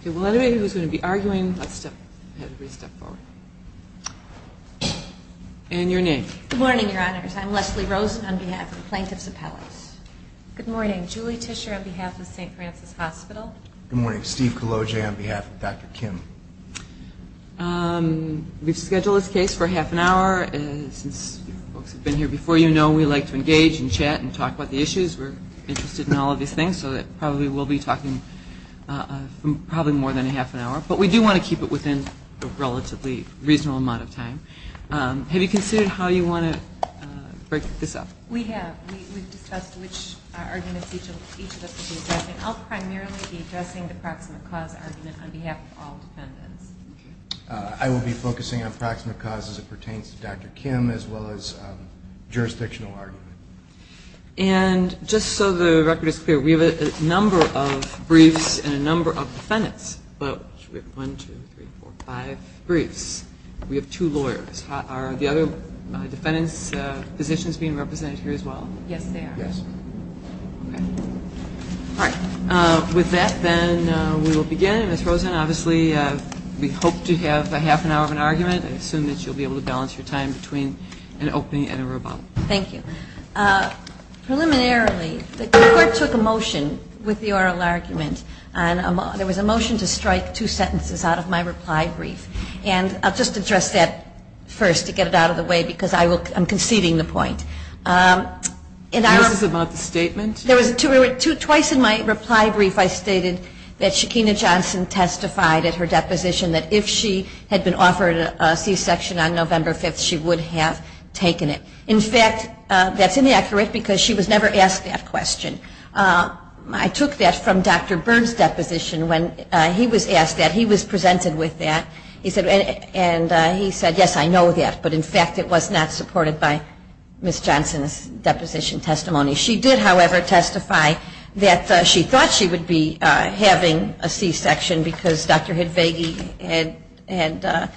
Okay, well, anybody who's going to be arguing, let's step ahead and step forward. And your name? Good morning, Your Honors. I'm Leslie Rosen on behalf of the Plaintiffs Appellate. Good morning. Julie Tischer on behalf of St. Francis Hospital. Good morning. Steve Cologe on behalf of Dr. Kim. We've scheduled this case for half an hour. Since you folks have been here before, you know we like to engage and chat and talk about the issues. We're interested in all of these things, so we'll be talking probably more than a half an hour. But we do want to keep it within a relatively reasonable amount of time. Have you considered how you want to break this up? We have. We've discussed which arguments each of us will be addressing. I'll primarily be addressing the proximate cause argument on behalf of all defendants. I will be focusing on proximate cause as it pertains to Dr. Kim as well as jurisdictional argument. And just so the record is clear, we have a number of briefs and a number of defendants. We have one, two, three, four, five briefs. We have two lawyers. Are the other defendants' positions being represented here as well? Yes, they are. All right. With that, then, we will begin. Ms. Rosen, obviously, we hope to have a half an hour of an argument. I Thank you. Preliminarily, the court took a motion with the oral argument. There was a motion to strike two sentences out of my reply brief. And I'll just address that first to get it out of the way because I'm conceding the point. This is about the statement? Twice in my reply brief, I stated that Shekinah Johnson testified at her deposition that if she had been offered a c-section on November 5th, she would have taken it. In fact, that's inaccurate because she was never asked that question. I took that from Dr. Byrne's deposition when he was asked that. He was presented with that. And he said, yes, I know that. But in fact, it was not supported by Ms. Johnson's deposition testimony. She did, however, testify that she thought she would be having a c-section because Dr. Hidvegi had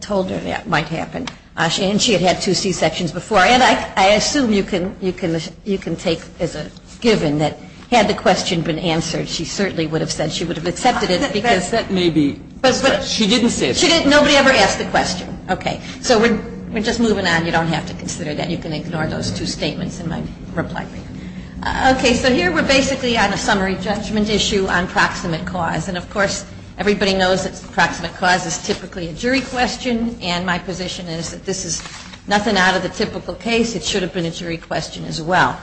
told her that might happen. And she had had two c-sections before. And I assume you can take as a given that had the question been answered, she certainly would have said she would have accepted it because That may be true. She didn't say that. Nobody ever asked the question. Okay. So we're just moving on. You don't have to consider that. You can ignore those two statements in my reply. Okay. So here we're basically on a summary judgment issue on proximate cause. And of course, everybody knows that proximate cause is typically a jury question. And my position is that this is nothing out of the typical case. It should have been a jury question as well.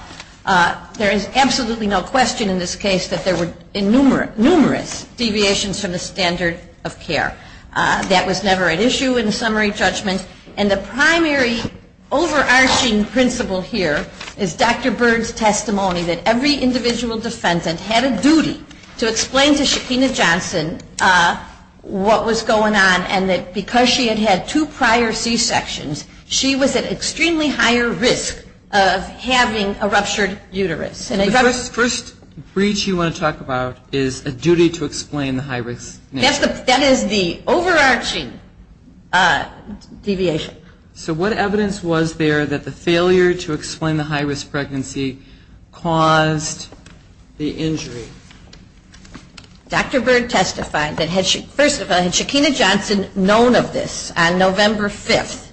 There is absolutely no question in this case that there were numerous deviations from the standard of care. That was never an issue in the summary judgment. And the primary overarching principle here is Dr. Byrd's testimony that every individual defendant had a duty to explain to Shekinah Johnson what was going on and that because she had had two prior c-sections, she was at extremely higher risk of having a ruptured uterus. The first breach you want to talk about is a duty to explain the high risk. That is the overarching deviation. So what evidence was there that the failure to explain the high risk pregnancy caused the injury? Dr. Byrd testified that had Shekinah Johnson known of this on November 5th,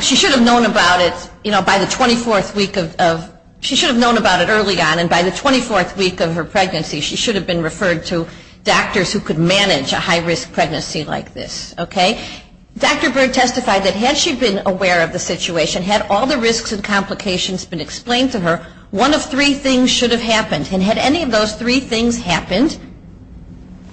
she should have known about it, you know, by the 24th week of, she should have known about it early on and by the 24th week of her pregnancy she should have been referred to a high risk pregnancy like this. Dr. Byrd testified that had she been aware of the situation, had all the risks and complications been explained to her, one of three things should have happened. And had any of those three things happened,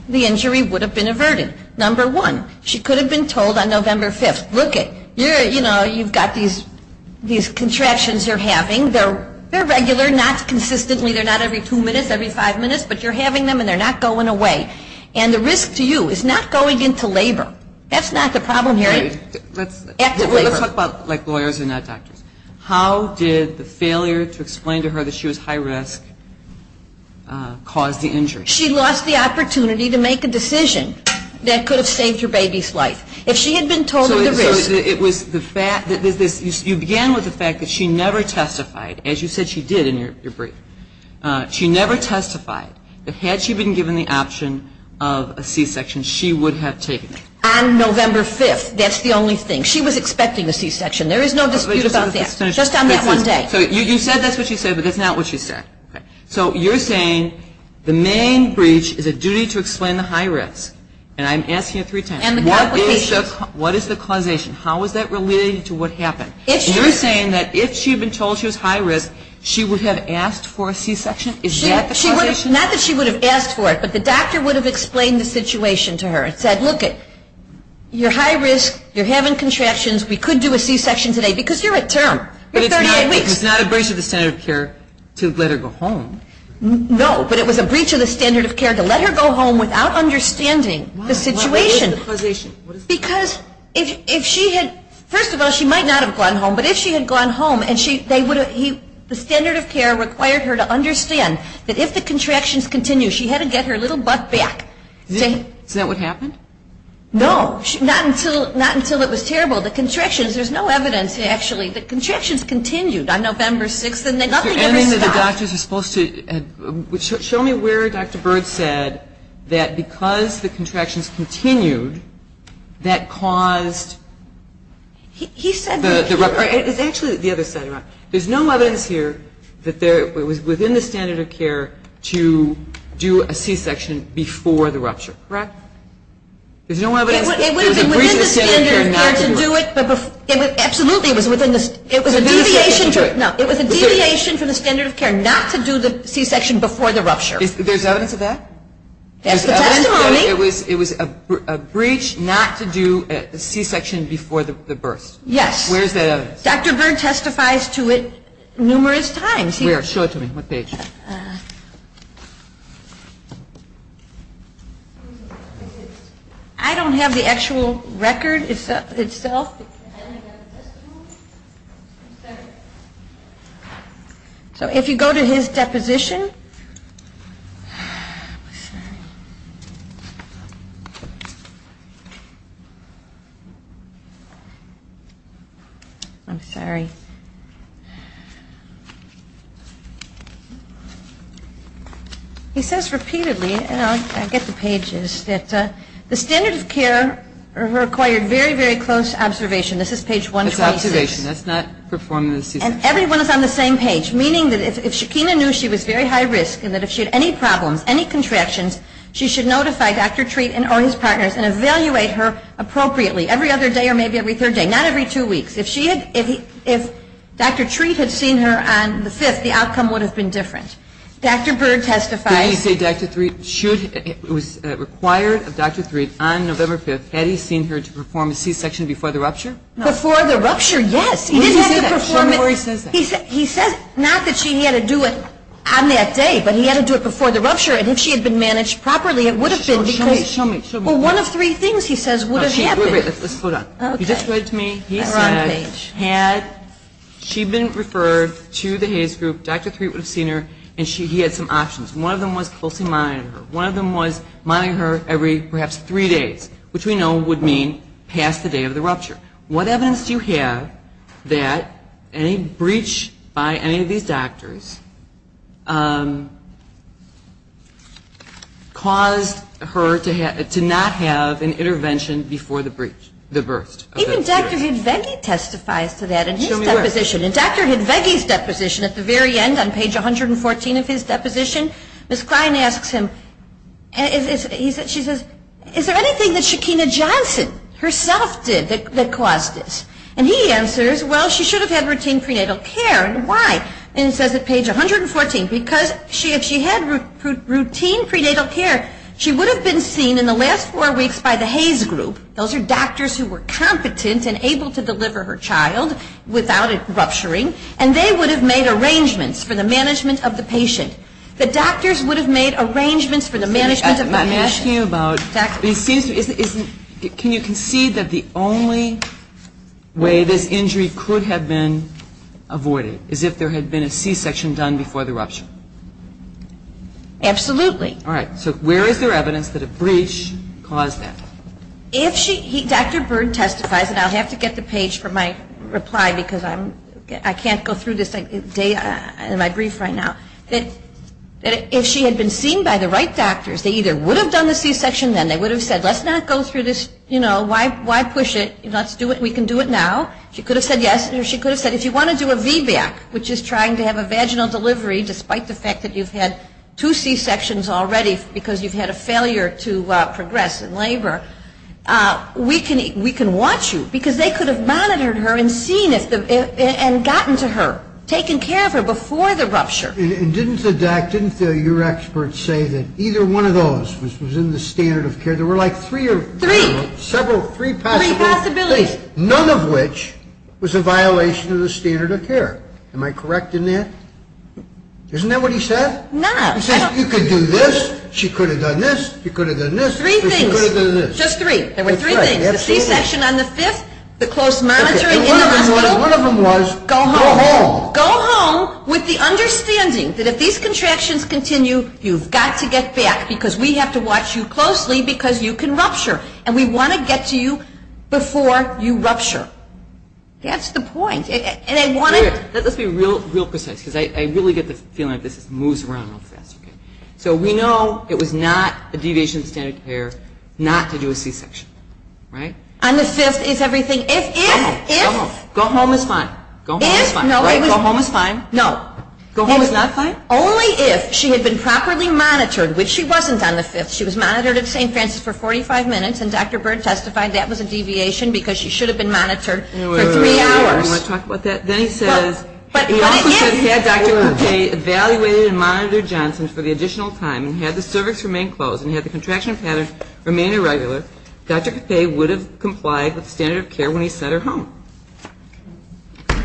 the injury would have been averted. Number one, she could have been told on November 5th, look it, you've got these contractions you're having, they're regular, not consistently, they're not every two minutes, every five minutes, but you're having them and they're not going away. And the risk to you is not going into labor. That's not the problem, Harriet. Active labor. Let's talk about like lawyers and not doctors. How did the failure to explain to her that she was high risk cause the injury? She lost the opportunity to make a decision that could have saved her baby's life. If she had been told of the risk. So it was, you began with the fact that she never testified, as you said she did in your testimony, that had she been given the option of a C-section, she would have taken it. On November 5th, that's the only thing. She was expecting a C-section. There is no dispute about that. Just on that one day. So you said that's what she said, but that's not what she said. So you're saying the main breach is a duty to explain the high risk. And I'm asking you three times. And the complications. What is the causation? How is that related to what happened? If she. You're saying that if she had been told she was high risk, she would have asked for a C-section? Is that the causation? Not that she would have asked for it. But the doctor would have explained the situation to her. And said, look, you're high risk. You're having contractions. We could do a C-section today. Because you're at term. You're 38 weeks. It's not a breach of the standard of care to let her go home. No. But it was a breach of the standard of care to let her go home without understanding the situation. What is the causation? Because if she had. First of all, she might not have gone home. But if she had gone home, they would have. The standard of care required her to understand that if the contractions continue, she had to get her little butt back. Is that what happened? No. Not until it was terrible. The contractions. There's no evidence, actually. The contractions continued on November 6th. And nothing ever stopped. You're adding that the doctors were supposed to. Show me where Dr. Bird said that because the contractions continued, that caused. He said. It's actually the other side of that. There's no evidence here that it was within the standard of care to do a C-section before the rupture. Correct? There's no evidence. It would have been within the standard of care to do it. Absolutely. It was a deviation from the standard of care not to do the C-section before the rupture. There's evidence of that? That's the testimony. It was a breach not to do a C-section before the burst. Yes. Dr. Bird testifies to it numerous times. I don't have the actual record itself. So if you go to his deposition. I'm sorry. He says repeatedly, and I'll get the pages, that the standard of care required very, very close observation. This is page 126. That's observation. That's not performing the C-section. And everyone is on the same page, meaning that if Shekinah knew she was very high risk and that if she had any problems, any contractions, she should notify Dr. Treat or his partners and evaluate her appropriately every other day or maybe every third day. Not every two weeks. If she had, if Dr. Treat had seen her on the 5th, the outcome would have been different. Dr. Bird testifies. Did he say Dr. Treat should, it was required of Dr. Treat on November 5th, had he seen her to perform a C-section before the rupture? Before the rupture, yes. He didn't have to perform it. Show me where he says that. He says not that she had to do it on that day, but he had to do it before the rupture. And if she had been managed properly, it would have been because. Well, one of three things he says would have happened. Wait, wait, let's slow down. He just read to me, he said had she been referred to the Hays Group, Dr. Treat would have seen her and he had some options. One of them was closely monitoring her. One of them was monitoring her every perhaps three days, which we know would mean past the day of the rupture. What evidence do you have that any breach by any of these doctors caused her to not have an intervention before the burst? Even Dr. Hidvegi testifies to that in his deposition. In Dr. Hidvegi's deposition, at the very end on page 114 of his deposition, Ms. Klein asks him, she says, is there anything that Shekinah Johnson herself did that caused this? And he answers, well, she should have had routine prenatal care. Why? And it says at page 114, because if she had routine prenatal care, she would have been seen in the last four weeks by the Hays Group, those are doctors who were competent and able to deliver her child without it rupturing, and they would have made arrangements for the management of the patient. The doctors would have made arrangements for the management of the patient. Let me ask you about, can you concede that the only way this injury could have been avoided is if there had been a C-section done before the rupture? Absolutely. All right. So where is there evidence that a breach caused that? If she, Dr. Byrd testifies, and I'll have to get the page for my reply because I can't go through this in my brief right now, that if she had been seen by the right doctors, they either would have done the C-section then, they would have said, let's not go through this, you know, why push it, let's do it, we can do it now. She could have said yes, or she could have said, if you want to do a VBAC, which is trying to have a vaginal delivery despite the fact that you've had two C-sections already because you've had a failure to progress in labor, we can watch you, because they could have monitored her and seen if, and gotten to her, taken care of her before the rupture. And didn't the doc, didn't your expert say that either one of those was in the standard of care? There were like three or four, several, three possible things, none of which was a standard of care? Isn't that what he said? No. He said, you could do this, she could have done this, you could have done this, she could have done this. Three things. Just three. There were three things. The C-section on the 5th, the close monitoring in the hospital. One of them was, go home. Go home. Go home with the understanding that if these contractions continue, you've got to get back because we have to watch you closely because you can rupture, and we want to get to you before you rupture. That's the point. And I wanted... Let's be real precise because I really get the feeling that this moves around real fast. So we know it was not a deviation of standard of care not to do a C-section, right? On the 5th is everything, if, if, if... Go home is fine. If, no, it was... Go home is fine. No. Go home is not fine? Only if she had been properly monitored, which she wasn't on the 5th. She was monitored at St. Francis for 45 minutes and Dr. Byrd testified that was a deviation because she should have been monitored for three hours. I don't want to talk about that. Then he says, he also said he had Dr. Coupe evaluated and monitored Johnson for the additional time, and had the cervix remained closed and had the contraction pattern remained irregular, Dr. Coupe would have complied with standard of care when he sent her home.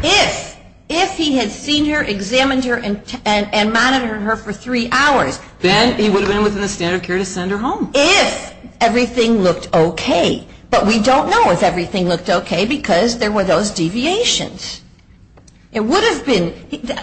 If, if he had seen her, examined her, and monitored her for three hours... Then he would have been within the standard of care to send her home. If everything looked okay. But we don't know if everything looked okay because there were those deviations. It would have been.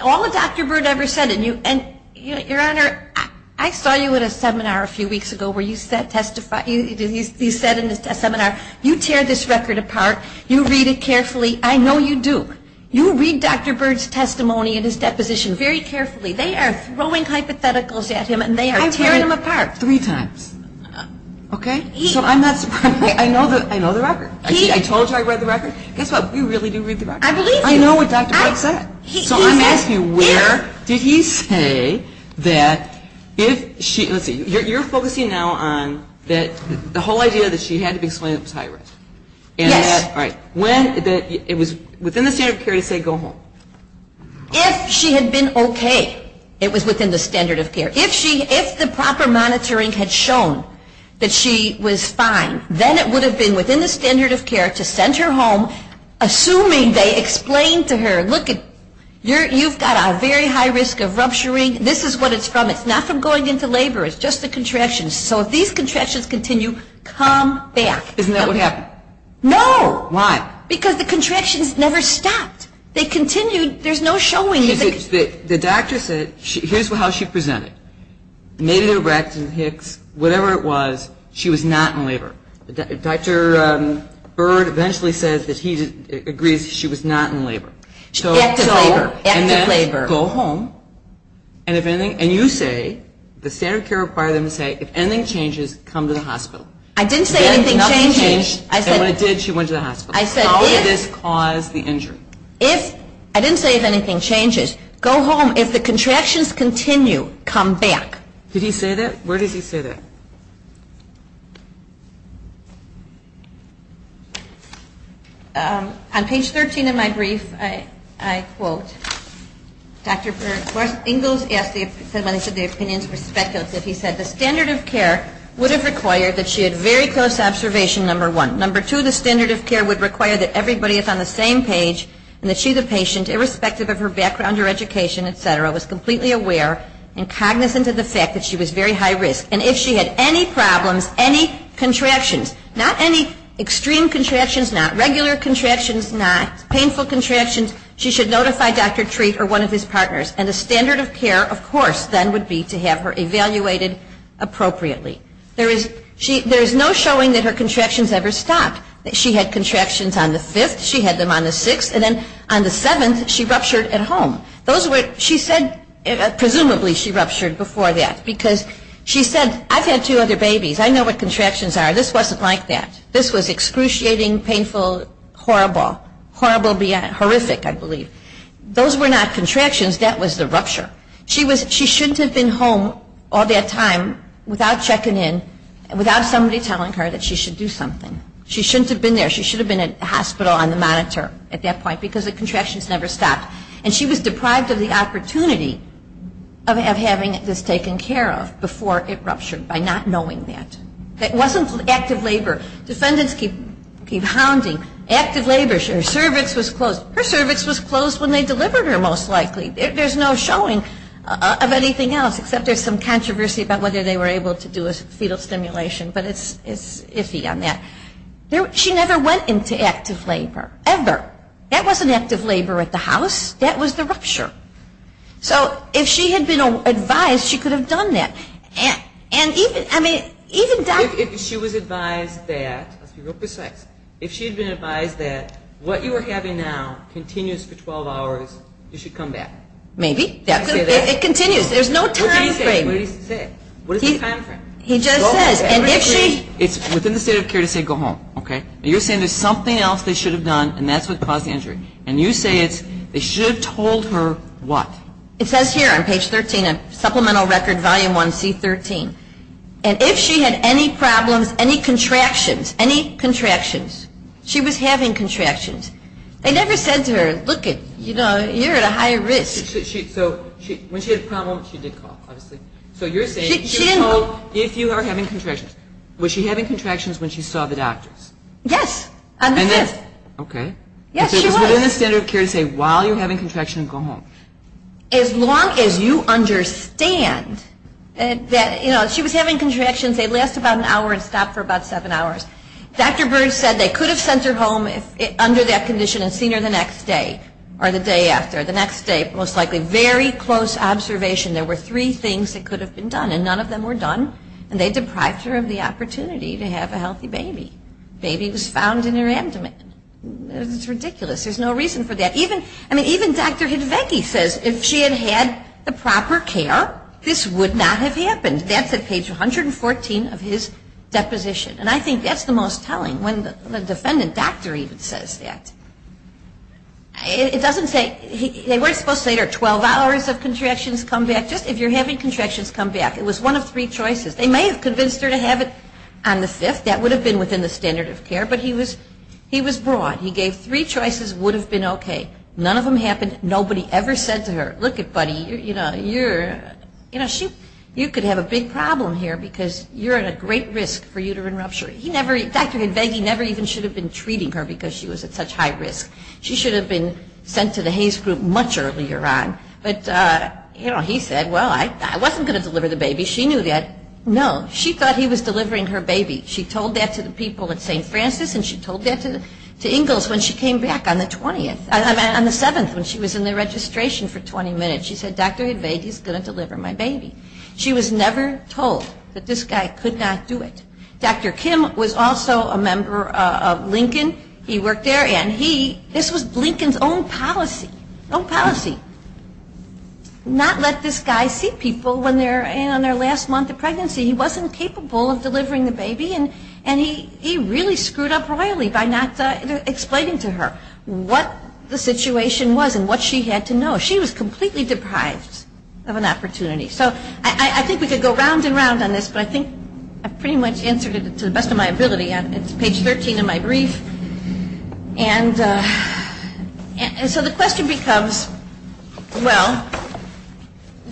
All that Dr. Byrd ever said, and you, and, Your Honor, I saw you at a seminar a few weeks ago where you said testify, you said in the seminar, you tear this record apart, you read it carefully. I know you do. You read Dr. Byrd's testimony and his deposition very carefully. They are throwing hypotheticals at him and they are tearing... I've read them apart three times. Okay? So I'm not surprised. I know the record. I told you I read the record. Guess what? You really do read the record. I know what Dr. Byrd said. So I'm asking where did he say that if she, let's see, you're focusing now on that the whole idea that she had to be explained was high risk. Yes. And that, when, that it was within the standard of care to say go home. If she had been okay, it was within the standard of care. If she, if the proper monitoring had shown that she was fine, then it would have been within the standard of care to send her home assuming they explained to her, look it, you've got a very high risk of rupturing. This is what it's from. It's not from going into labor. It's just the contractions. So if these contractions continue, come back. Isn't that what happened? No. Why? Because the contractions never stopped. They continued. There's no showing... Which the doctor said, here's how she presented. Made it erect and Hicks, whatever it was, she was not in labor. Dr. Byrd eventually says that he agrees she was not in labor. So... Active labor. Active labor. And then go home. And if anything, and you say, the standard of care required them to say, if anything changes, come to the hospital. I didn't say anything changes. Then nothing changed. I said... And when it did, she went to the hospital. I said if... How did this cause the injury? If... I didn't say if anything changes. Go home. If the contractions continue, come back. Did he say that? Where does he say that? On page 13 of my brief, I quote, Dr. Byrd, Ingalls asked, when I said the opinions were speculative, he said, the standard of care would have required that she had very close observation, number one. Number two, the standard of care would require that everybody is on the same page and that she, the patient, irrespective of her background or education, et cetera, was completely aware and cognizant of the fact that she was very high risk. And if she had any problems, any contractions, not any extreme contractions, not regular contractions, not painful contractions, she should notify Dr. Treat or one of his partners. And the standard of care, of course, then would be to have her evaluated appropriately. There is no showing that her contractions ever stopped, that she had contractions on the 5th, she had them on the 6th, and then on the 7th, she ruptured at home. Those were, she said, presumably, she ruptured before that because she said, I've had two other babies. I know what contractions are. This wasn't like that. This was excruciating, painful, horrible. Horrible, horrific, I believe. Those were not contractions. That was the rupture. She was, she shouldn't have been home all that time without checking in, without somebody telling her that she should do something. She shouldn't have been there. She should have been at the hospital on the monitor at that point because the contractions never stopped. And she was deprived of the opportunity of having this taken care of before it ruptured by not knowing that. It wasn't active labor. Defendants keep hounding. Active labor. Her cervix was closed. Her cervix was closed when they delivered her, most likely. There's no showing of anything else except there's some controversy about whether they were able to active labor, ever. That wasn't active labor at the house. That was the rupture. So if she had been advised, she could have done that. And even, I mean, even Dr. If she was advised that, let's be real precise, if she had been advised that what you are having now continues for 12 hours, you should come back. Maybe. It continues. There's no time frame. What did he say? What did he say? What is the time frame? He just says, and if she It's within the state of care to say go home. Okay? You're saying there's something else they should have done and that's what caused the injury. And you say it's they should have told her what? It says here on page 13 of Supplemental Record Volume 1, C-13. And if she had any problems, any contractions, any contractions, she was having contractions. They never said to her, look it, you know, you're at a higher risk. So when she had a problem, she did cough, obviously. So you're saying she was told if you are having contractions, was she having contractions when she saw the doctors? Yes. And then Okay. Yes, she was. It's within the standard of care to say while you're having contractions, go home. As long as you understand that, you know, if she was having contractions, they last about an hour and stop for about seven hours. Dr. Burns said they could have sent her home if under that condition and seen her the next day or the day after. The next day, most likely very close observation. There were three things that could have been done and none of them were done. And they deprived her of the opportunity to have a healthy baby. Baby was found in her abdomen. It's ridiculous. There's no reason for that. Even Dr. Hidvegi says if she had had the proper care, this would not have happened. That's at page 114 of his deposition. And I think that's the most telling when the defendant doctor even says that. It doesn't say, they weren't supposed to say there are 12 hours of contractions, come back. It was one of three choices. They may have convinced her to have it on the fifth. That would have been within the standard of care. But he was broad. He gave three choices would have been okay. None of them happened. Nobody ever said to her, look it, buddy, you know, you're, you know, you could have a big problem here because you're at a great risk for uterine rupture. He never, Dr. Hidvegi never even should have been treating her because she was at such high risk. She should have been sent to the Hays Group much earlier on. But, you know, he said, well, I wasn't going to deliver the baby. She knew that. No. She thought he was delivering her baby. She told that to the people at St. Francis and she told that to Ingalls when she came back on the 20th, I mean on the 7th when she was in the registration for 20 minutes. She said, Dr. Hidvegi is going to deliver my baby. She was never told that this guy could not do it. Dr. Kim was also a member of Lincoln. He worked there. And he, this was Lincoln's own policy. Own policy. Not let this guy see people when they're, you know, in their last month of pregnancy. He wasn't capable of delivering the baby and he really screwed up royally by not explaining to her what the situation was and what she had to know. She was completely deprived of an opportunity. So I think we could go round and round on this, but I think I've pretty much answered it to the best of my ability. It's page 13 of my brief. And so the question becomes, well,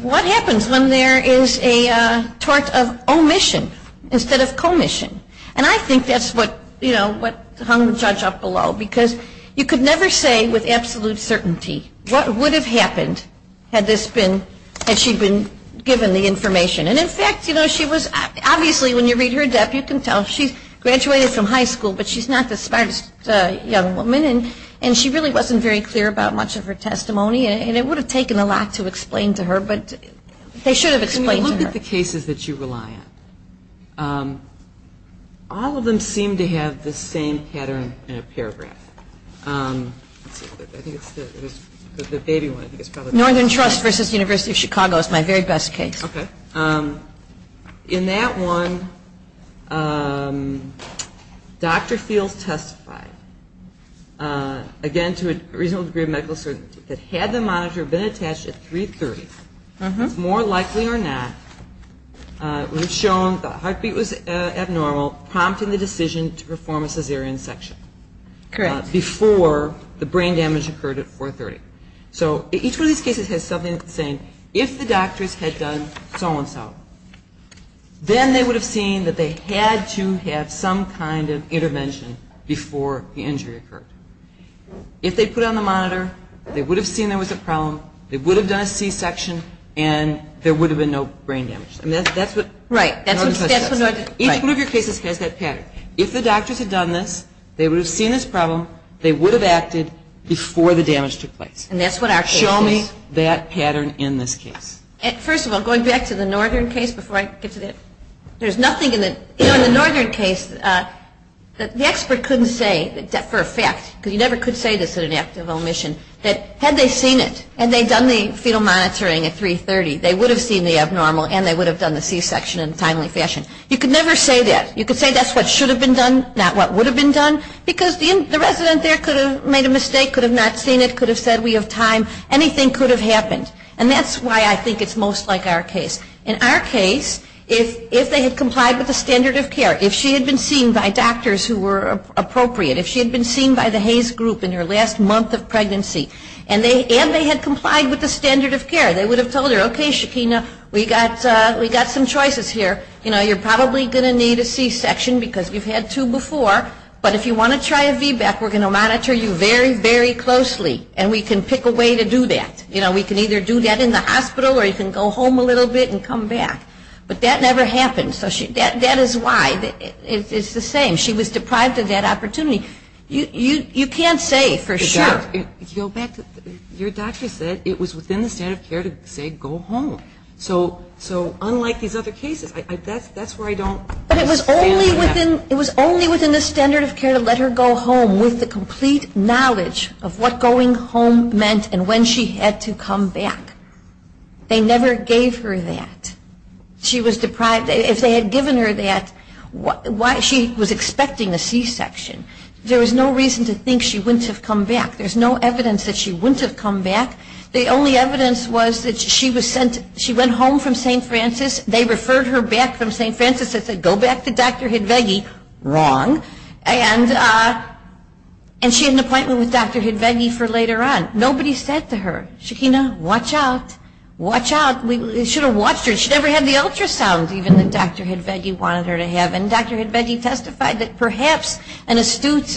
what happens when there is a tort of omission instead of commission? And I think that's what, you know, what hung the judge up below. Because you could never say with absolute certainty what would have happened had this been, had she been given the information. And in fact, you know, she was, obviously when you read her death, you can tell she's graduated from high school, but she's not the smartest young woman. And she really wasn't very clear about much of her testimony. And it would have taken a lot to explain to her, but they should have explained to her. Can we look at the cases that you rely on? All of them seem to have the same pattern in a paragraph. I think it's the baby one. Northern Trust v. University of Chicago is my very best case. In that one, Dr. Fields testified, again to a reasonable degree of medical certainty, that had the monitor been attached at 3.30, it's more likely or not, it would have shown the heartbeat was abnormal, prompting the decision to perform a cesarean section before the brain damage occurred at 4.30. So each one of these cases has something that's saying if the doctors had done so-and-so, then they would have seen that they had to have some kind of intervention before the injury occurred. If they put on the monitor, they would have seen there was a problem. They would have done a c-section, and there would have been no brain damage. That's what Northern Trust does. Each one of your cases has that pattern. If the doctors had done this, they would have seen this problem, they would have acted before the damage took place. And that's what our case is. Show me that pattern in this case. First of all, going back to the Northern case, before I get to that, there's nothing in the Northern case that the expert couldn't say for a fact, because you never could say this in an act of omission, that had they seen it, and they'd done the fetal monitoring at 3.30, they would have seen the abnormal, and they would have done the c-section in what would have been done, not what would have been done, because the resident there could have made a mistake, could have not seen it, could have said, we have time. Anything could have happened. And that's why I think it's most like our case. In our case, if they had complied with the standard of care, if she had been seen by doctors who were appropriate, if she had been seen by the Hays Group in her last month of pregnancy, and they had complied with the standard of care, they would have told her, okay, Shakina, we got some choices here. You are probably going to need a c-section, because you've had two before, but if you want to try a VBAC, we're going to monitor you very, very closely, and we can pick a way to do that. You know, we can either do that in the hospital, or you can go home a little bit and come back. But that never happened. So that is why. It's the same. She was deprived of that opportunity. You can't say for sure. Your doctor said it was within the standard of care to say go home. So unlike these other cases, it was only within the standard of care to let her go home with the complete knowledge of what going home meant and when she had to come back. They never gave her that. She was deprived. If they had given her that, she was expecting a c-section. There was no reason to think she wouldn't have come back. There's no evidence that she wouldn't have come back. The only evidence was that she went home from St. Francis. They referred her back from St. Francis and said go back to Dr. Hidvegi. Wrong. And she had an appointment with Dr. Hidvegi for later on. Nobody said to her, Shekina, watch out. Watch out. We should have watched her. She never had the ultrasound even that Dr. Hidvegi wanted her to have. And Dr. Hidvegi testified that perhaps an astute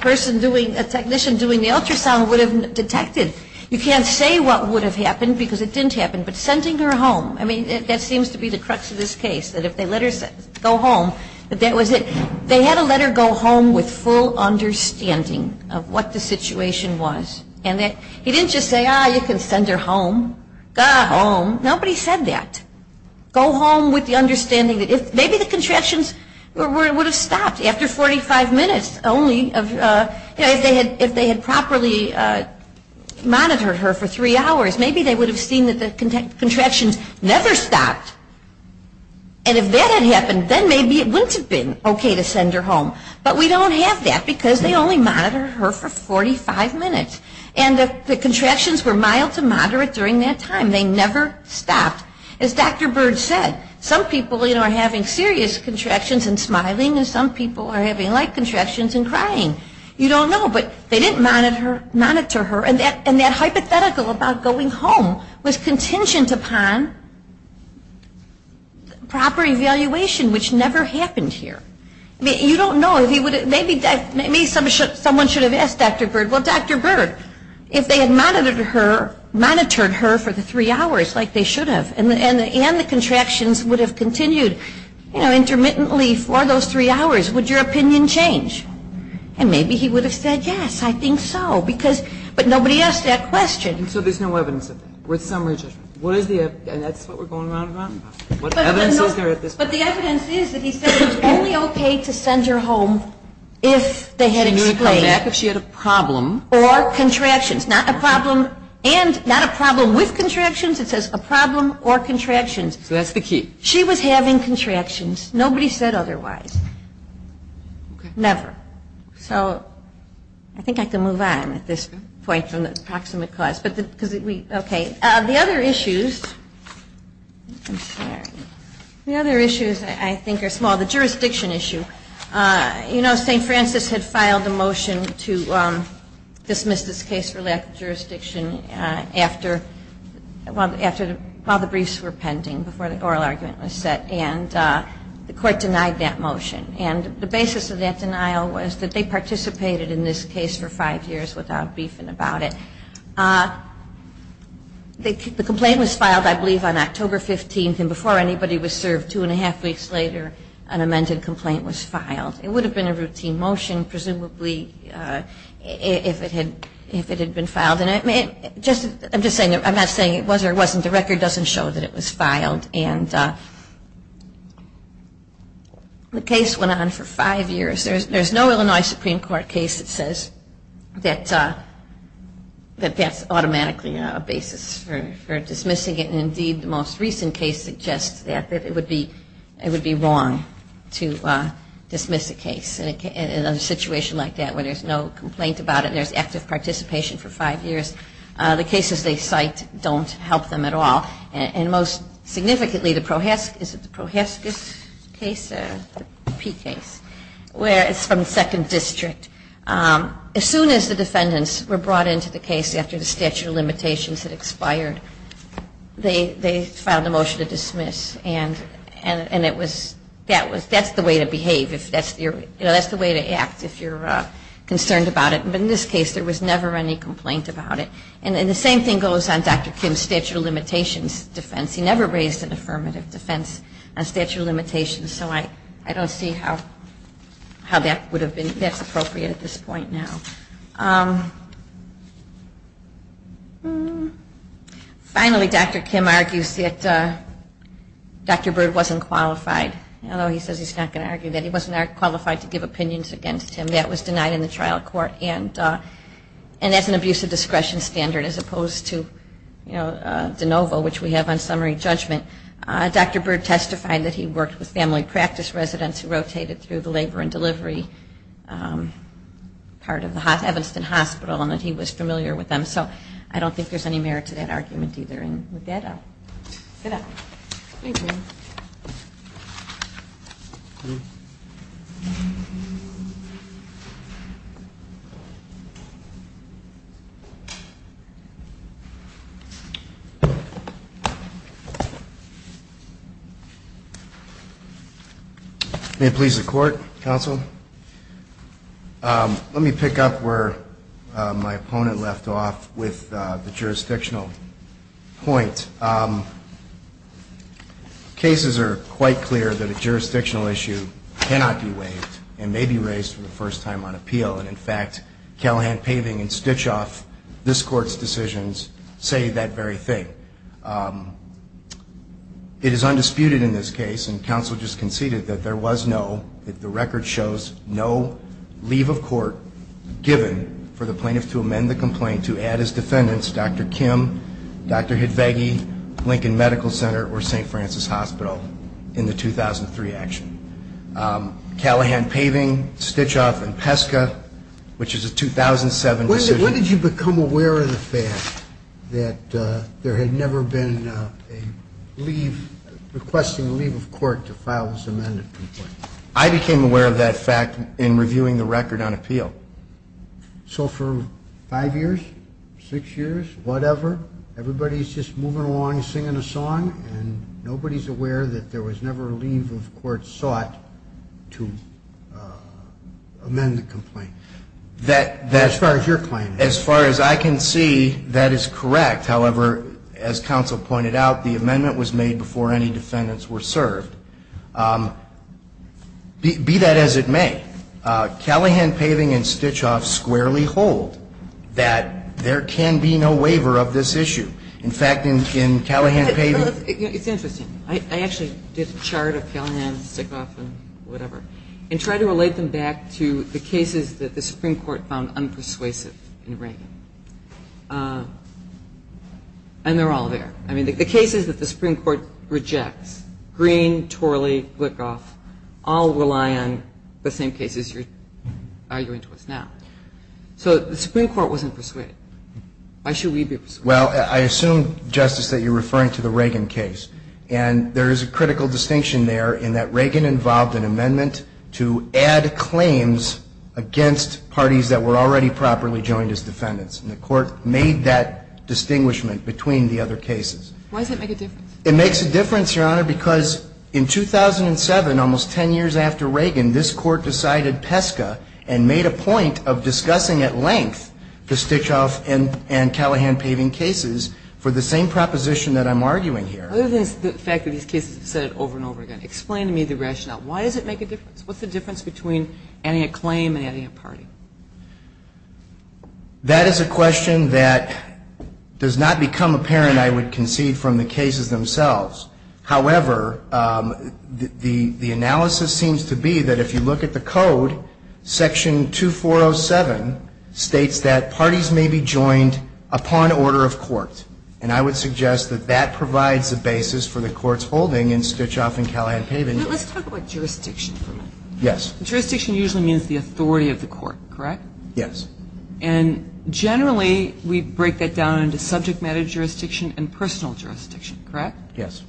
person doing, a technician doing the ultrasound would have detected. You can't say what would have happened because it didn't happen. But sending her home, I mean, that seems to be the crux of this case. That if they let her go home, that was it. They had to let her go home with full understanding of what the situation was. And he didn't just say, Ah, you can send her home. Go home. Nobody said that. Go home with the understanding that maybe the contractions would have stopped after 45 minutes only if they had properly monitored her for three hours. Maybe they would have seen that the contractions never stopped. And if that had happened, then maybe it wouldn't have been okay to send her home. But we don't have that because they only monitor her for 45 minutes. And the contractions were mild to moderate during that time. They never stopped. As Dr. Bird said, some people, you know, are having serious contractions and smiling and some people are having light contractions and crying. You don't know. But they didn't monitor her. And that hypothetical about going home was contingent upon proper evaluation, which never happened here. You don't know. Maybe someone should have asked Dr. Bird, well, Dr. Bird, if they had monitored her for the three hours like they should have and the contractions would have continued, you know, intermittently for those three hours, would your opinion change? And maybe he would have said, yes, I think so. But nobody asked that question. So there's no evidence of that? With summary judgment? And that's what we're going around and around about? What evidence is there at this point? But the evidence is that he said it was only okay to send her home if they had explained it. She would have come back if she had a problem. Or contractions. Not a problem and not a problem with contractions. It says a problem or contractions. So that's the key. She was having contractions. Nobody said otherwise. Never. So I think I can move on at this point from the proximate cause. The other issues I think are small. The jurisdiction issue. You know, St. Francis had filed a motion to dismiss this case for lack of jurisdiction after the briefs were pending before the oral argument was set. And the court denied that motion. And the basis of that denial was that they participated in this case for five years without briefing about it. The complaint was filed, I believe, on October 15th. And before anybody was served two and a half weeks later, an amended complaint was filed. It would have been a routine motion, presumably, if it had been filed. And I'm not saying it was or wasn't. The record doesn't show that it was filed. And the case went on for five years. There's no Illinois Supreme Court case that says that that's automatically a basis for dismissing it. And indeed, the most recent case suggests that it would be wrong to dismiss a case in a situation like that where there's no complaint about it. There's active participation for five years. The cases they cite don't help them at all. And most significantly, the Prohaskis case, where it's from the Second District, as soon as the defendants were brought into the case after the statute of limitations had expired, they filed a motion to dismiss. And that's the way to behave. That's the way to act if you're concerned about it. But in this case, there was never any complaint about it. And the same thing goes on Dr. Kim's statute of limitations defense. He never raised an affirmative defense on statute of limitations. So I don't see how that would have been. That's appropriate at this point now. Finally, Dr. Kim argues that Dr. Bird wasn't qualified. Although he says he's not going to argue that. He wasn't qualified to give opinions against him. That was denied in the case. And as an abuse of discretion standard, as opposed to de novo, which we have on summary judgment, Dr. Bird testified that he worked with family practice residents who rotated through the labor and delivery part of the Evanston Hospital and that he was familiar with them. So I don't think there's any merit to that argument either. And with that, I'll turn it over to you, Mr. Chairman. May it please the Court, Counsel. Let me pick up where my opponent left off with the jurisdictional point. Cases are quite clear that a jurisdictional issue cannot be waived and may be raised for an appeal. And in fact, Callahan paving and Stichoff, this Court's decisions, say that very thing. It is undisputed in this case, and Counsel just conceded, that there was no, that the record shows, no leave of court given for the plaintiff to amend the complaint to add his defendants, Dr. Kim, Dr. Hidvegi, Lincoln Medical Center, or St. Francis Hospital in the 2003 action. Callahan paving, Stichoff, and Peska, which is a 2007 decision. When did you become aware of the fact that there had never been a leave, requesting leave of court to file this amended complaint? I became aware of that fact in reviewing the record on appeal. So for five years, six years, whatever, everybody's just moving along, singing a song, and nobody's ever been aware that there was never a leave of court sought to amend the complaint. As far as your claim is. As far as I can see, that is correct. However, as Counsel pointed out, the amendment was made before any defendants were served. Be that as it may, Callahan paving and Stichoff squarely hold that there can be no waiver of this issue. In fact, in Callahan paving It's interesting. I actually did a chart of Callahan, Stichoff, and whatever, and tried to relate them back to the cases that the Supreme Court found unpersuasive in Reagan. And they're all there. I mean, the cases that the Supreme Court rejects, Green, Torley, Glickoff, all rely on the same cases you're arguing towards now. So the Supreme Court wasn't persuaded. Why should we be persuaded? Well, I assume, Justice, that you're referring to the Reagan case. And there is a critical distinction there in that Reagan involved an amendment to add claims against parties that were already properly joined as defendants. And the Court made that distinguishment between the other cases. Why does it make a difference? It makes a difference, Your Honor, because in 2007, almost 10 years after Reagan, this Court decided PESCA and made a point of discussing at length the Stichoff and Callahan paving cases for the same proposition that I'm arguing here. Other than the fact that these cases have said it over and over again. Explain to me the rationale. Why does it make a difference? What's the difference between adding a claim and adding a party? That is a question that does not become apparent, I would concede, from the cases themselves. However, the analysis seems to be that if you look at the Code, Section 2407 states that parties may be joined upon order of court. And I would suggest that that provides a basis for the Court's holding in Stichoff and Callahan paving. Now, let's talk about jurisdiction for a minute. Yes. Jurisdiction usually means the authority of the Court, correct? Yes. And generally, we break that down into subject matter jurisdiction and personal jurisdiction, correct? Yes.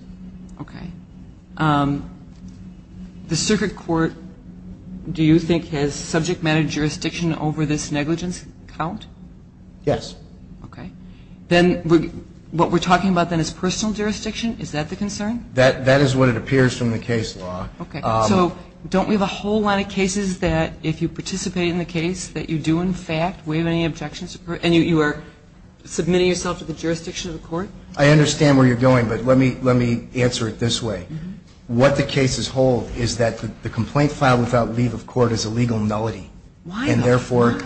Okay. The Circuit Court, do you think, has subject matter jurisdiction over this negligence count? Yes. Okay. Then, what we're talking about, then, is personal jurisdiction? Is that the concern? That is what it appears from the case law. Okay. So, don't we have a whole line of cases that, if you participate in the case, that you do, in fact, waive any objections? And you are submitting yourself to the jurisdiction of the Court? I understand where you're going, but let me answer it this way. What the cases hold is that the complaint filed without leave of court is a legal nullity. Why though? Why? And, therefore,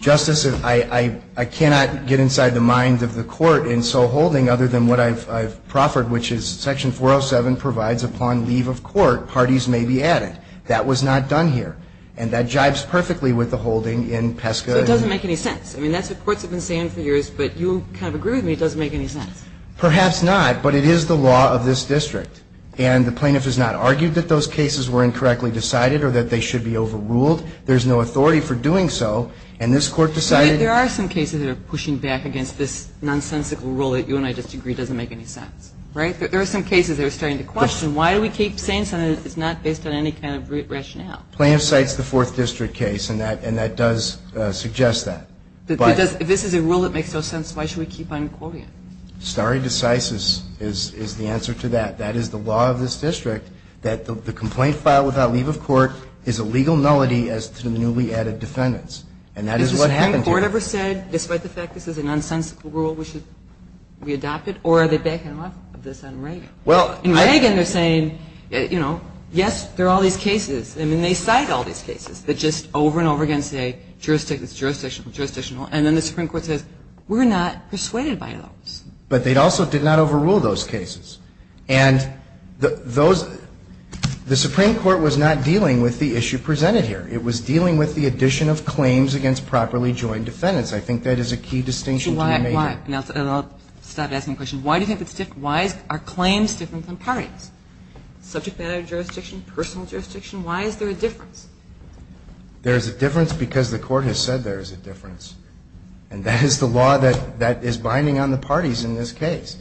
Justice, I cannot get inside the mind of the Court in so holding other than what I've proffered, which is Section 407 provides upon leave of court parties may be added. That was not done here. And that jibes perfectly with the holding in PESCA. So it doesn't make any sense. I mean, that's what courts have been saying for years, but you kind of agree with me it doesn't make any sense. Perhaps not, but it is the law of this district. And the plaintiff has not argued that those cases were incorrectly decided or that they should be overruled. There's no authority for doing so. And this Court decided to There are some cases that are pushing back against this nonsensical rule that you and I disagree doesn't make any sense. Right? There are some cases that are starting to question why do we keep saying something that's not based on any kind of rationale? Plaintiff cites the Fourth District case, and that does suggest that. If this is a rule that makes no sense, why should we keep on quoting it? Stare decisis is the answer to that. That is the law of this district, that the complaint filed without leave of court is a legal nullity as to the newly added defendants. And that is what happened here. Has the Supreme Court ever said, despite the fact this is a nonsensical rule, we should re-adopt it? Or are they backing off of this on Reagan? Well, I In Reagan they're saying, you know, yes, there are all these cases. I mean, they cite all these cases that just over and over again say, jurisdictional, jurisdictional, jurisdictional. And then the Supreme Court says, we're not persuaded by those. But they also did not overrule those cases. And those the Supreme Court was not dealing with the issue presented here. It was dealing with the addition of claims against properly joined defendants. I think that is a key distinction to be made here. Why? And I'll stop asking questions. Why do you think it's different? Why are claims different from parties? Subject matter jurisdiction, personal jurisdiction, why is there a difference? There is a difference because the Court has said there is a difference. And that is the law that is binding on the parties in this case.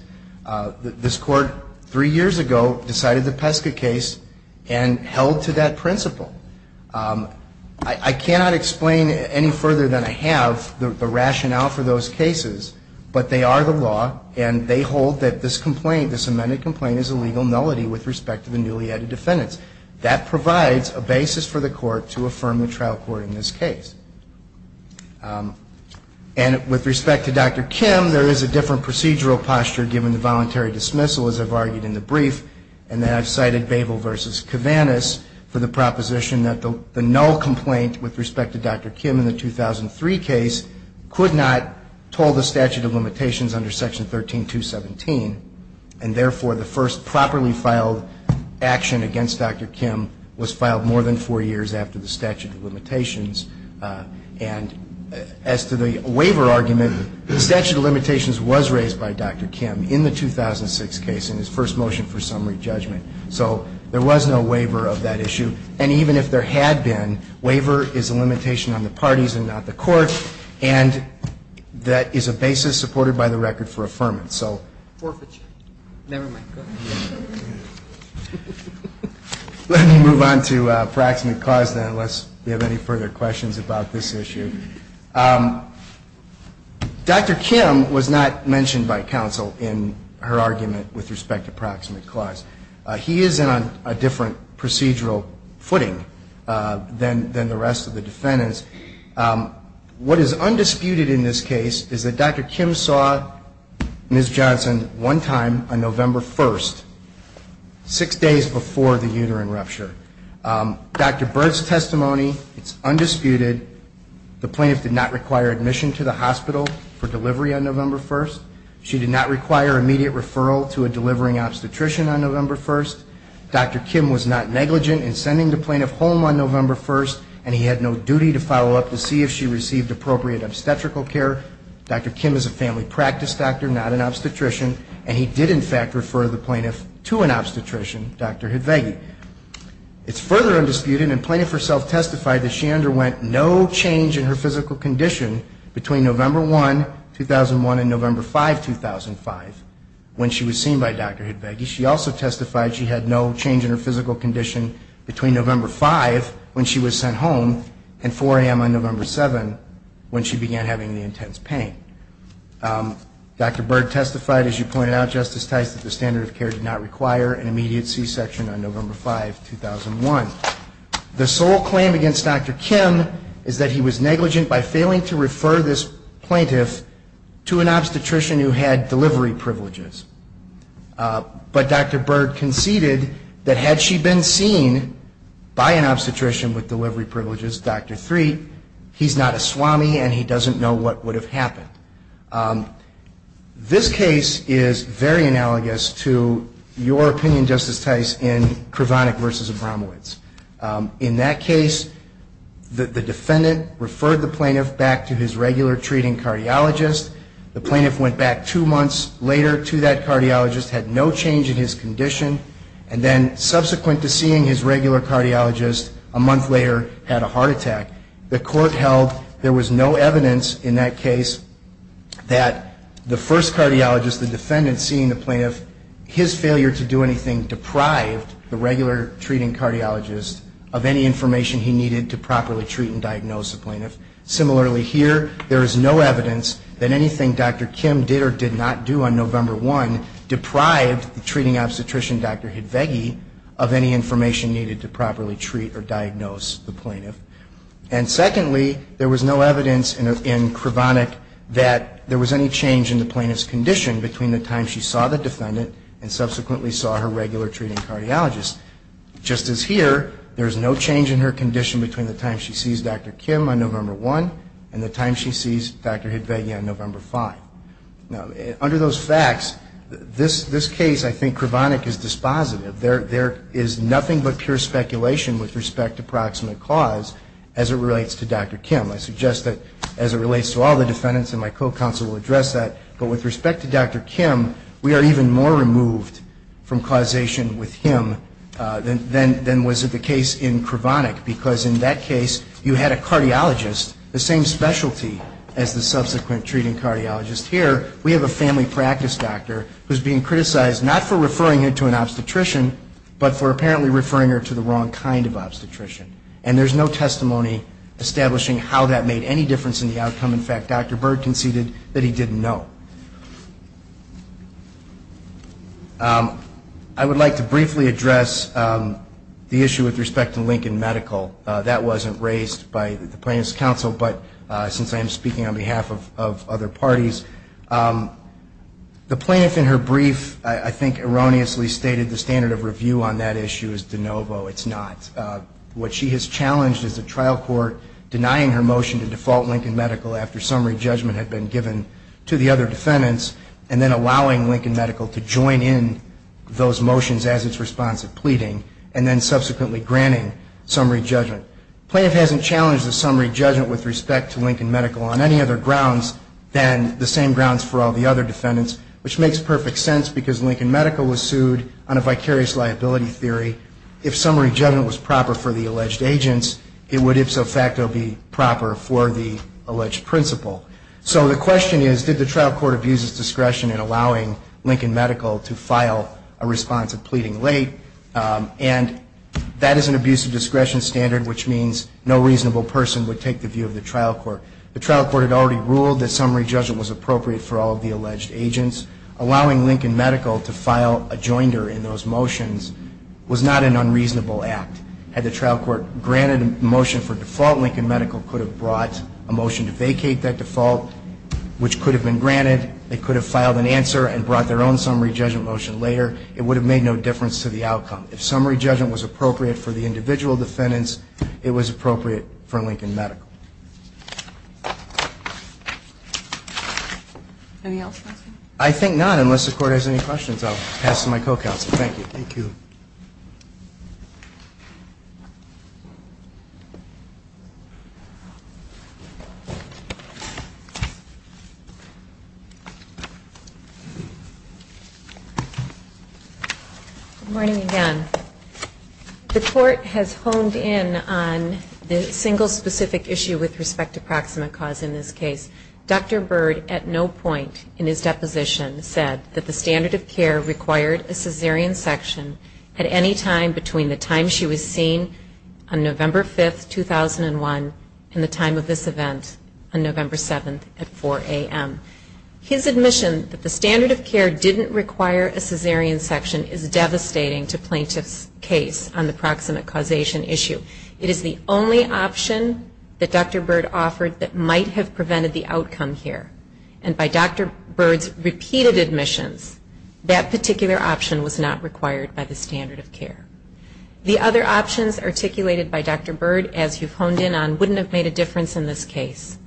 This Court three years ago decided the Peska case and held to that principle. I cannot explain any further than I have the rationale for those cases, but they are the law and they hold that this complaint, this amended complaint is a legal nullity with respect to the newly added defendants. That provides a basis for the Court to affirm the trial court in this case. And with respect to Dr. Kim, there is a different procedural posture given the voluntary dismissal, as I've argued in the brief. And that I've cited Babel v. Kavanis for the proposition that the null complaint with respect to Dr. Kim in the 2003 case could not toll the statute of limitations under Section 13217. And therefore, the first properly filed action against Dr. Kim was filed more than four years after the statute of limitations. And as to the waiver argument, the statute of limitations was raised by Dr. Kim in the 2006 case in his first motion for summary judgment. So there was no waiver of that issue. And even if there had been, waiver is a limitation on the parties and not the Court. And that is a basis supported by the record for affirmance. Let me move on to proximate cause then, unless you have any further questions about this issue. Dr. Kim was not mentioned by counsel in her argument with respect to proximate cause. He is on a different procedural footing than the rest of the defendants. What is undisputed in this case is that Dr. Kim saw Ms. Johnson one time on November 1st, six days before the uterine rupture. Dr. Byrd's testimony is undisputed. The plaintiff did not require admission to the hospital for delivery on November 1st. She did not require immediate referral to a delivering obstetrician on November 1st. Dr. Kim was not negligent in sending the plaintiff home on November 1st, and he had no duty to follow up to see if she needed an obstetrician. And he did, in fact, refer the plaintiff to an obstetrician, Dr. Hidvegi. It's further undisputed, and the plaintiff herself testified that she underwent no change in her physical condition between November 1, 2001, and November 5, 2005, when she was seen by Dr. Hidvegi. She also testified she had no change in her physical condition between November 5, 2005, when she was sent home, and 4 a.m. on November 7, when she began having the intense pain. Dr. Byrd testified, as you pointed out, Justice Tice, that the standard of care did not require an immediate C-section on November 5, 2001. The sole claim against Dr. Kim is that he was negligent by failing to refer this plaintiff to an obstetrician who had delivery privileges. But Dr. Byrd conceded that had she been seen by an obstetrician with delivery privileges, Dr. Threat, he's not a swami, and he doesn't know what would have happened. This case is very analogous to your opinion, Justice Tice, in Kravonic v. Abramowitz. In that case, the defendant referred the plaintiff back to his regular treating cardiologist. The plaintiff went back two months later to that obstetrician, and then subsequent to seeing his regular cardiologist, a month later had a heart attack. The court held there was no evidence in that case that the first cardiologist, the defendant, seeing the plaintiff, his failure to do anything deprived the regular treating cardiologist of any information he needed to properly treat and diagnose the plaintiff. Similarly here, there is no evidence in Kravonic that there was any change in the plaintiff's condition between the time she saw the defendant and subsequently saw her regular treating cardiologist. Just as here, there is no change in her condition between the time she sees Dr. Kim on November 1 and the time she sees Dr. Hidvegi on November 5. Now, under the circumstances, the plaintiff's case, I think Kravonic is dispositive. There is nothing but pure speculation with respect to proximate cause as it relates to Dr. Kim. I suggest that as it relates to all the defendants, and my co-counsel will address that, but with respect to Dr. Kim, we are even more removed from causation with him than was the case in Kravonic, because in that case, you had a cardiologist, the same practice doctor, who is being criticized not for referring her to an obstetrician, but for apparently referring her to the wrong kind of obstetrician. And there is no testimony establishing how that made any difference in the outcome. In fact, Dr. Byrd conceded that he didn't know. I would like to briefly address the issue with respect to Lincoln Medical. That wasn't raised by the plaintiff's counsel, but since I am speaking on behalf of Lincoln Medical, the plaintiff in her brief, I think erroneously stated the standard of review on that issue is de novo. It's not. What she has challenged is the trial court denying her motion to default Lincoln Medical after summary judgment had been given to the other defendants, and then allowing Lincoln Medical to join in those motions as its response to pleading, and then subsequently granting summary judgment. The plaintiff hasn't challenged the summary judgment with respect to Lincoln Medical on any other grounds than the same grounds for all the other defendants, which makes perfect sense because Lincoln Medical was sued on a vicarious liability theory. If summary judgment was proper for the alleged agents, it would ipso facto be proper for the alleged principal. So the question is, did the trial court abuse its discretion in allowing Lincoln Medical to file a response of pleading late? And that is an abuse of discretion standard, which means no reasonable person would take the view of the trial court. The trial court had already ruled that summary judgment was appropriate for all of the alleged agents. Allowing Lincoln Medical to file a joinder in those motions was not an unreasonable act. Had the trial court granted a motion for default, Lincoln Medical could have brought a motion to vacate that default, which could have been granted. They could have filed an answer and brought their own summary judgment motion later. It would have made no difference to the outcome. If summary judgment was appropriate for the alleged agents, it was appropriate for Lincoln Medical. Any else? I think not, unless the court has any questions. I'll pass to my co-counsel. Thank you. Thank you. Good morning, again. The court has honed in on the single specific issue with respect to proximate cause in this case. Dr. Byrd at no point in his deposition said that the standard of care required a caesarean section at any time between the time she was seen on November 5th, 2001, and the time of this event on November 7th at 4 a.m. His admission that the standard of care didn't require a caesarean section is devastating to plaintiffs' case on the proximate causation issue. It is the only option that Dr. Byrd offered that might have prevented the outcome here. And by Dr. Byrd's repeated admissions, that particular option was not required by the standard of care. The other options articulated by Dr. Byrd, as you've honed in on, wouldn't have made a difference in this case.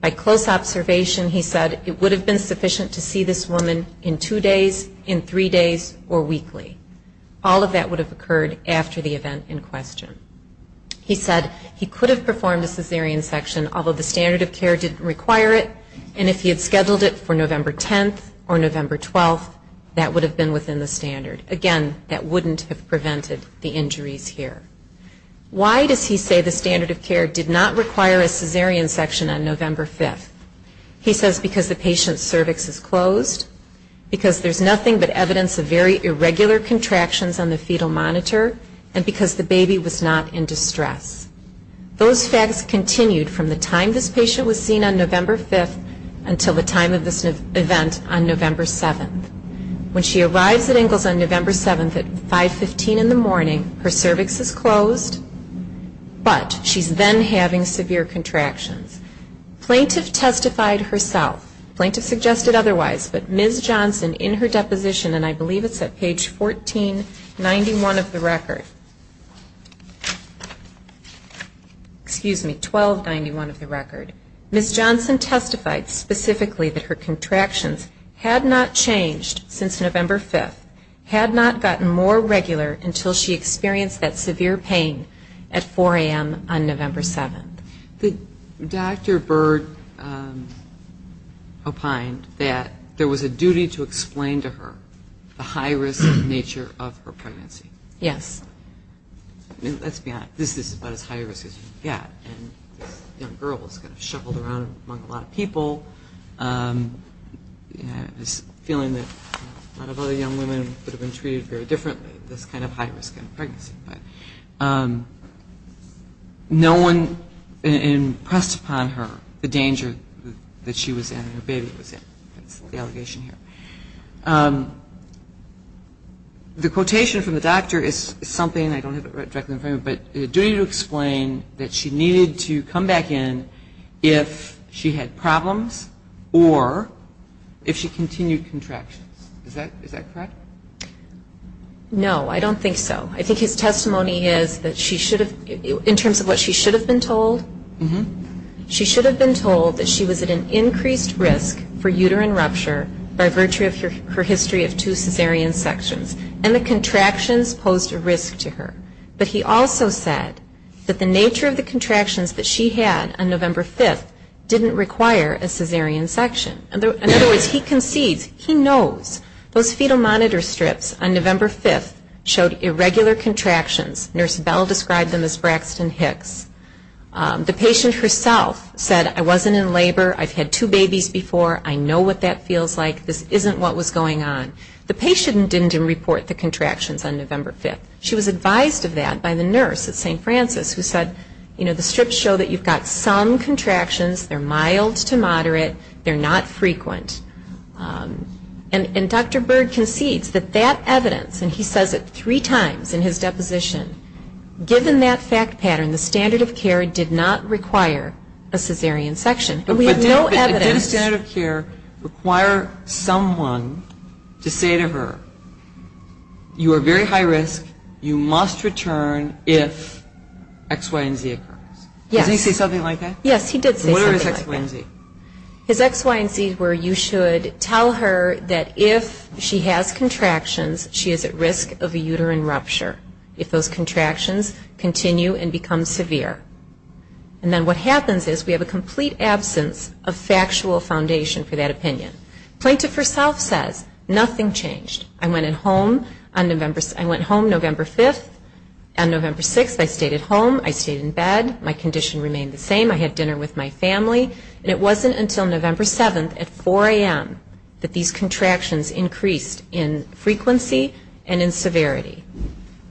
By close observation, he said it would have been sufficient to see this woman in two days, in three days, or weekly. All of that would have occurred after the event in question. He said he could have performed a caesarean section, although the standard of care didn't require it, and if he had scheduled it for November 10th or November 12th, that would have been within the standard. Again, that wouldn't have prevented the injuries here. Why does he say the standard of care did not require a caesarean section on November 5th? He says because the patient's cervix is closed, because there's nothing but evidence of very irregular contractions on the fetal monitor, and because the baby was not in distress. Those facts continued from the time this patient was seen on November 5th until the time of this event on November 7th. When she arrives at Ingalls on November 7th at 5.15 in the morning, her cervix is closed, but she's then having severe contractions. Plaintiff testified herself, plaintiff suggested otherwise, but Ms. Johnson in her deposition, and I believe it's at page 1491 of the record, excuse me, 1291 of the record, Ms. Johnson testified specifically that her contractions had not changed since November 5th, had not gotten more regular until she experienced that severe pain at 4 a.m. on November 7th. Dr. Bird opined that there was a duty to explain to her the high risk nature of her pregnancy. Let's be honest, this is about as high risk as you can get, and this young girl was kind of shuffled around among a lot of people, and this feeling that a lot of other young women would have been treated very differently, this kind of high risk kind of pregnancy. But no one impressed upon her the danger that she was in and her baby was in. That's the allegation here. The quotation from the doctor is something I don't have it directly in front of me, but duty to explain that she needed to come back in if she had problems or if she continued contractions. Is that correct? No, I don't think so. I think his testimony is that she should have, in fact, come back in if she had problems or if she continued contractions. But he also said that the nature of the contractions that she had on November 5th didn't require a cesarean section. In other words, he concedes, he knows those fetal monitor strips on November 5th showed irregular contractions. Nurse Bell described them as Braxton Hicks. The patient didn't report the contractions on November 5th. She was advised of that by the nurse at St. Francis who said, you know, the strips show that you've got some contractions, they're mild to moderate, they're not frequent. And Dr. Byrd concedes that that evidence, and he says it three times in his deposition, given that fact pattern, the standard of care did not require a cesarean section. And we have no evidence. But did the standard of care require someone to say to her, you are very high risk, you must return if X, Y, and Z occurs? Yes. Does he say something like that? Yes, he did say something like that. His X, Y, and Z is where you should tell her that if she has contractions, she is at risk of a uterine rupture if those contractions continue and become severe. And then what happens is we have a complete absence of factual foundation for that opinion. Plaintiff herself says nothing changed. I went home November 5th. On November 6th I stayed at home with my family. And it wasn't until November 7th at 4 a.m. that these contractions increased in frequency and in severity.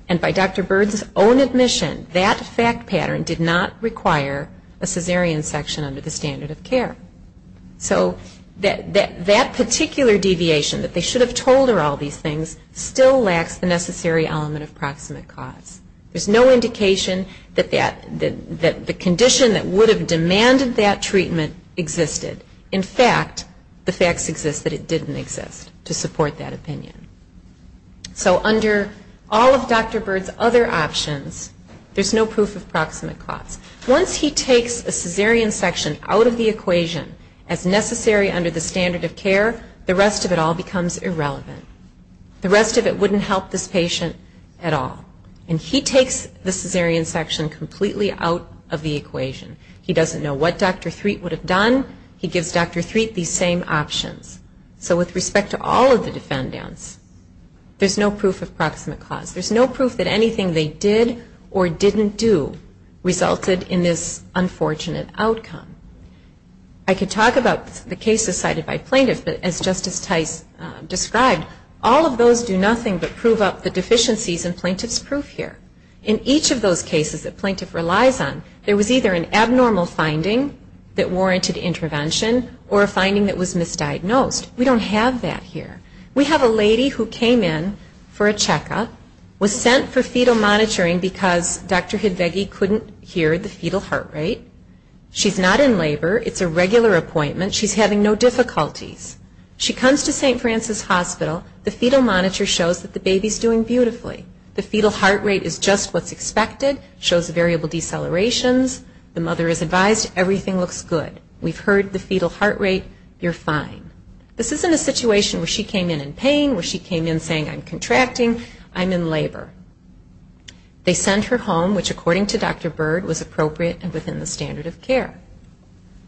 And by Dr. Byrd's own admission, that fact pattern did not require a cesarean section under the standard of care. So that particular deviation that they should have told her all these things still lacks the necessary element of proximate cause. There's no indication that the condition that would have demanded that treatment existed. In fact, the facts exist that it didn't exist to support that opinion. So under all of Dr. Byrd's other options, there's no proof of proximate cause. Once he takes a cesarean section out of the equation as necessary under the standard of care, the rest of it all becomes irrelevant. The rest of it wouldn't help this patient at all. And he takes the cesarean section completely out of the equation. He doesn't know what Dr. Threat would have done. He gives Dr. Threat these same options. So with respect to all of the defendants, there's no proof of proximate cause. There's no proof that anything they did or didn't do resulted in this unfortunate outcome. I could talk about the cases cited by plaintiffs, but as Justice Tice described, all of those do nothing but prove up the deficiencies in each of those cases that plaintiff relies on. There was either an abnormal finding that warranted intervention or a finding that was misdiagnosed. We don't have that here. We have a lady who came in for a checkup, was sent for fetal monitoring because Dr. Hidvegi couldn't hear the fetal heart rate. She's not in labor. It's a regular appointment. She's having no difficulties. She comes to St. Francis Hospital. The fetal monitor shows that the baby's doing beautifully. The fetal heart rate is just what's expected. It shows variable decelerations. The mother is advised everything looks good. We've heard the fetal heart rate. You're fine. This isn't a situation where she came in in pain, where she came in saying I'm contracting. I'm in labor. They sent her home, which according to Dr. Byrd was appropriate and within the standard of care.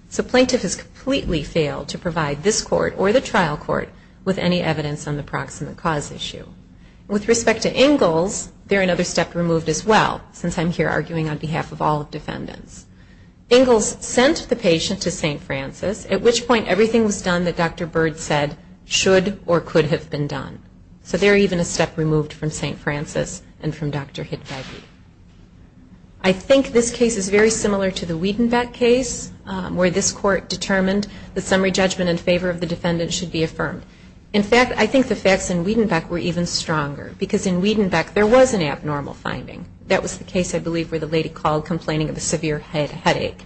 So plaintiff has completely failed to provide this court or the trial court with any evidence on the proximate cause issue. With respect to Ingalls, they're another step removed as well, since I'm here arguing on behalf of all defendants. Ingalls sent the patient to St. Francis, at which point everything was done that Dr. Byrd said should or could have been done. So they're even a step removed from St. Francis and from Dr. Hidvegi. I think this case is very similar to the Wiedenbeck case where this court determined the summary judgment in favor of the defendant should be affirmed. In fact, I think the Wiedenbeck case was stronger because in Wiedenbeck there was an abnormal finding. That was the case I believe where the lady called complaining of a severe headache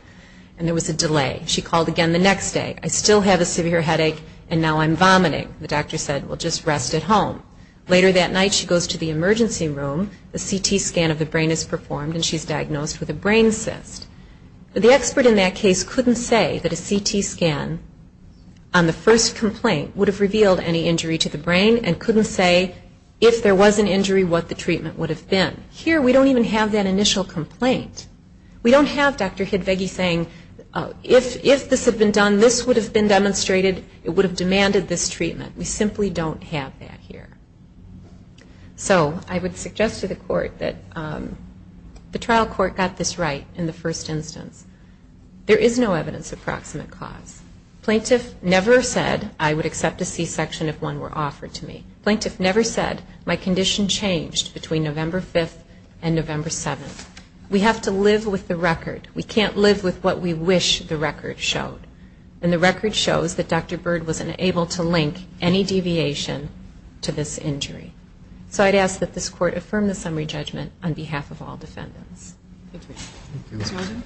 and there was a delay. She called again the next day. I still have a severe headache and now I'm vomiting. The doctor said, well, just rest at home. Later that night she goes to the emergency room. A CT scan of the brain is performed and she's diagnosed with a brain cyst. But the expert in that case couldn't say that a CT scan on the first complaint would have revealed any injury to the brain and couldn't say if there was an injury what the treatment would have been. Here we don't even have that initial complaint. We don't have Dr. Hidvegi saying if this had been done, this would have been demonstrated, it would have demanded this treatment. We simply don't have that here. So I would suggest to the court that the trial court got this right in the first instance. There is no evidence of proximate cause. Plaintiff never said I would have had a septicee section if one were offered to me. Plaintiff never said my condition changed between November 5th and November 7th. We have to live with the record. We can't live with what we wish the record showed. And the record shows that Dr. Byrd wasn't able to link any deviation to this injury. So I'd ask that this court affirm the summary judgment on behalf of all defendants. Thank you. Ms. Muldoon.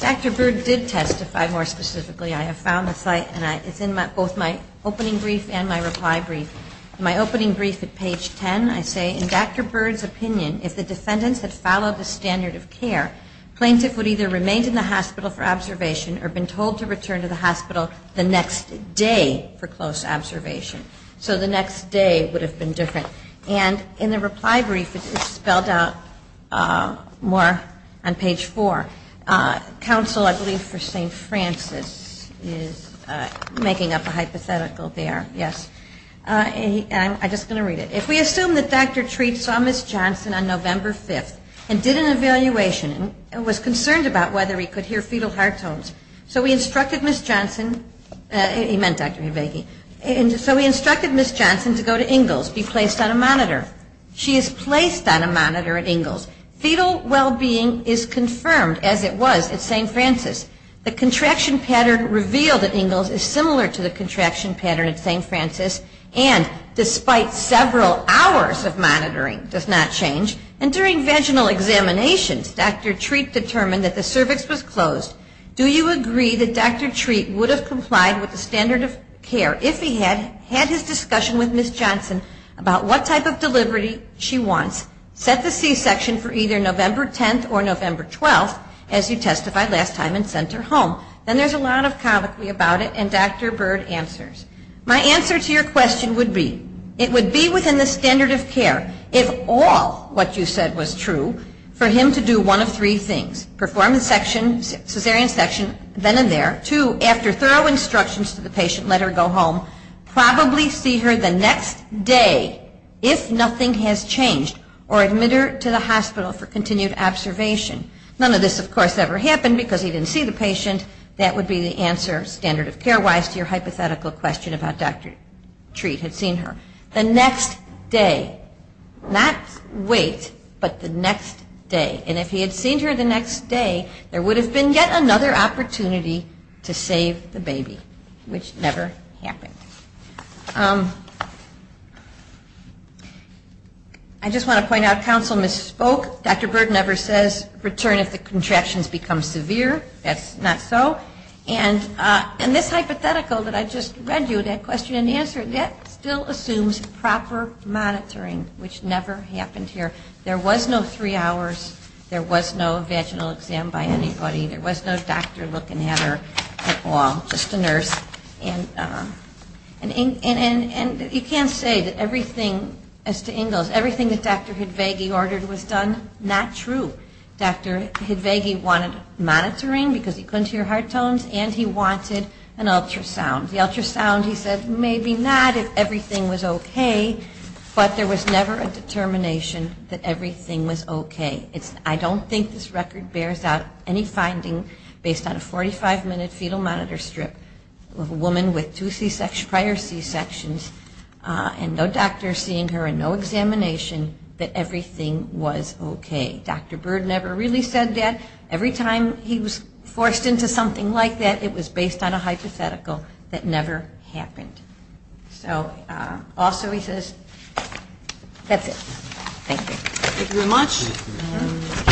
Dr. Byrd did testify more specifically. I have found the site and it's in both my opening brief and my reply brief. My opening brief at page 10, I say, in Dr. Byrd's opinion, if the defendants had followed the standard of care, plaintiff would either remain in the hospital for observation or been told to return to the hospital the next day for close observation. So the next day would have been more on page 4. Counsel, I believe for St. Francis is making up a hypothetical there. Yes. And I'm just going to read it. If we assume that Dr. Treat saw Ms. Johnson on November 5th and did an evaluation and was concerned about whether he could hear fetal heart tones, so we instructed Ms. Johnson, he meant Dr. Habeke, so we instructed Ms. Johnson to go to Ingalls, be placed on a monitor. considered to be the most common cause of heart failure in the is confirmed as it was at St. Francis. The contraction pattern revealed at Ingalls is similar to the contraction pattern at St. Francis, and despite several hours of monitoring, does not change. And during vaginal examinations, Dr. Treat determined that the cervix was closed. Do you agree that Dr. Treat would have complied with the standard of care if he had had his discussion with Ms. Johnson about what type of delivery she wants? Set the C-section for either November 10th or November 12th, as you testified last time and sent her home. Then there's a lot of colloquy about it, and Dr. Byrd answers. My answer to your question would be, it would be within the standard of care, if all what you said was true, for him to do one of three things, perform C-section then and there, two, after thorough instructions to the patient, let her go home, probably see her the next day, if nothing has changed, or admit her to the hospital for continued observation. None of this, of course, ever happened because he didn't see the patient. That would be the answer, standard of care-wise, to your hypothetical question about Dr. Treat had seen her the next day. Not wait, but the next day. And if he had seen her the next day, there would have been yet another opportunity to save the baby, which never happened. I just want to point out, counsel misspoke. Dr. Byrd never says return if the contractions become severe. That's not so. And this hypothetical that I just read you, that question and answer, that still assumes proper monitoring, which never happened here. There was no three hours, there was no vaginal exam by anybody, there was no doctor looking at her at all, just a nurse. And Dr. Byrd never said return if the contractions became severe. And you can't say that everything, as to Ingalls, everything that Dr. Hidvagi ordered was done, not true. Dr. Hidvagi wanted monitoring because he couldn't hear heart tones, and he wanted an ultrasound. The ultrasound, he said, maybe not if everything was okay, but there was never a determination that everything was okay. I don't think this record bears out any finding based on a 45-minute fetal monitor strip of a woman with two C-section problems, and a woman with two prior C-sections, and no doctor seeing her and no examination that everything was okay. Dr. Byrd never really said that. Every time he was forced into something like that, it was based on a hypothetical that never happened. So also he says, that's it. Thank you. Thank you very much.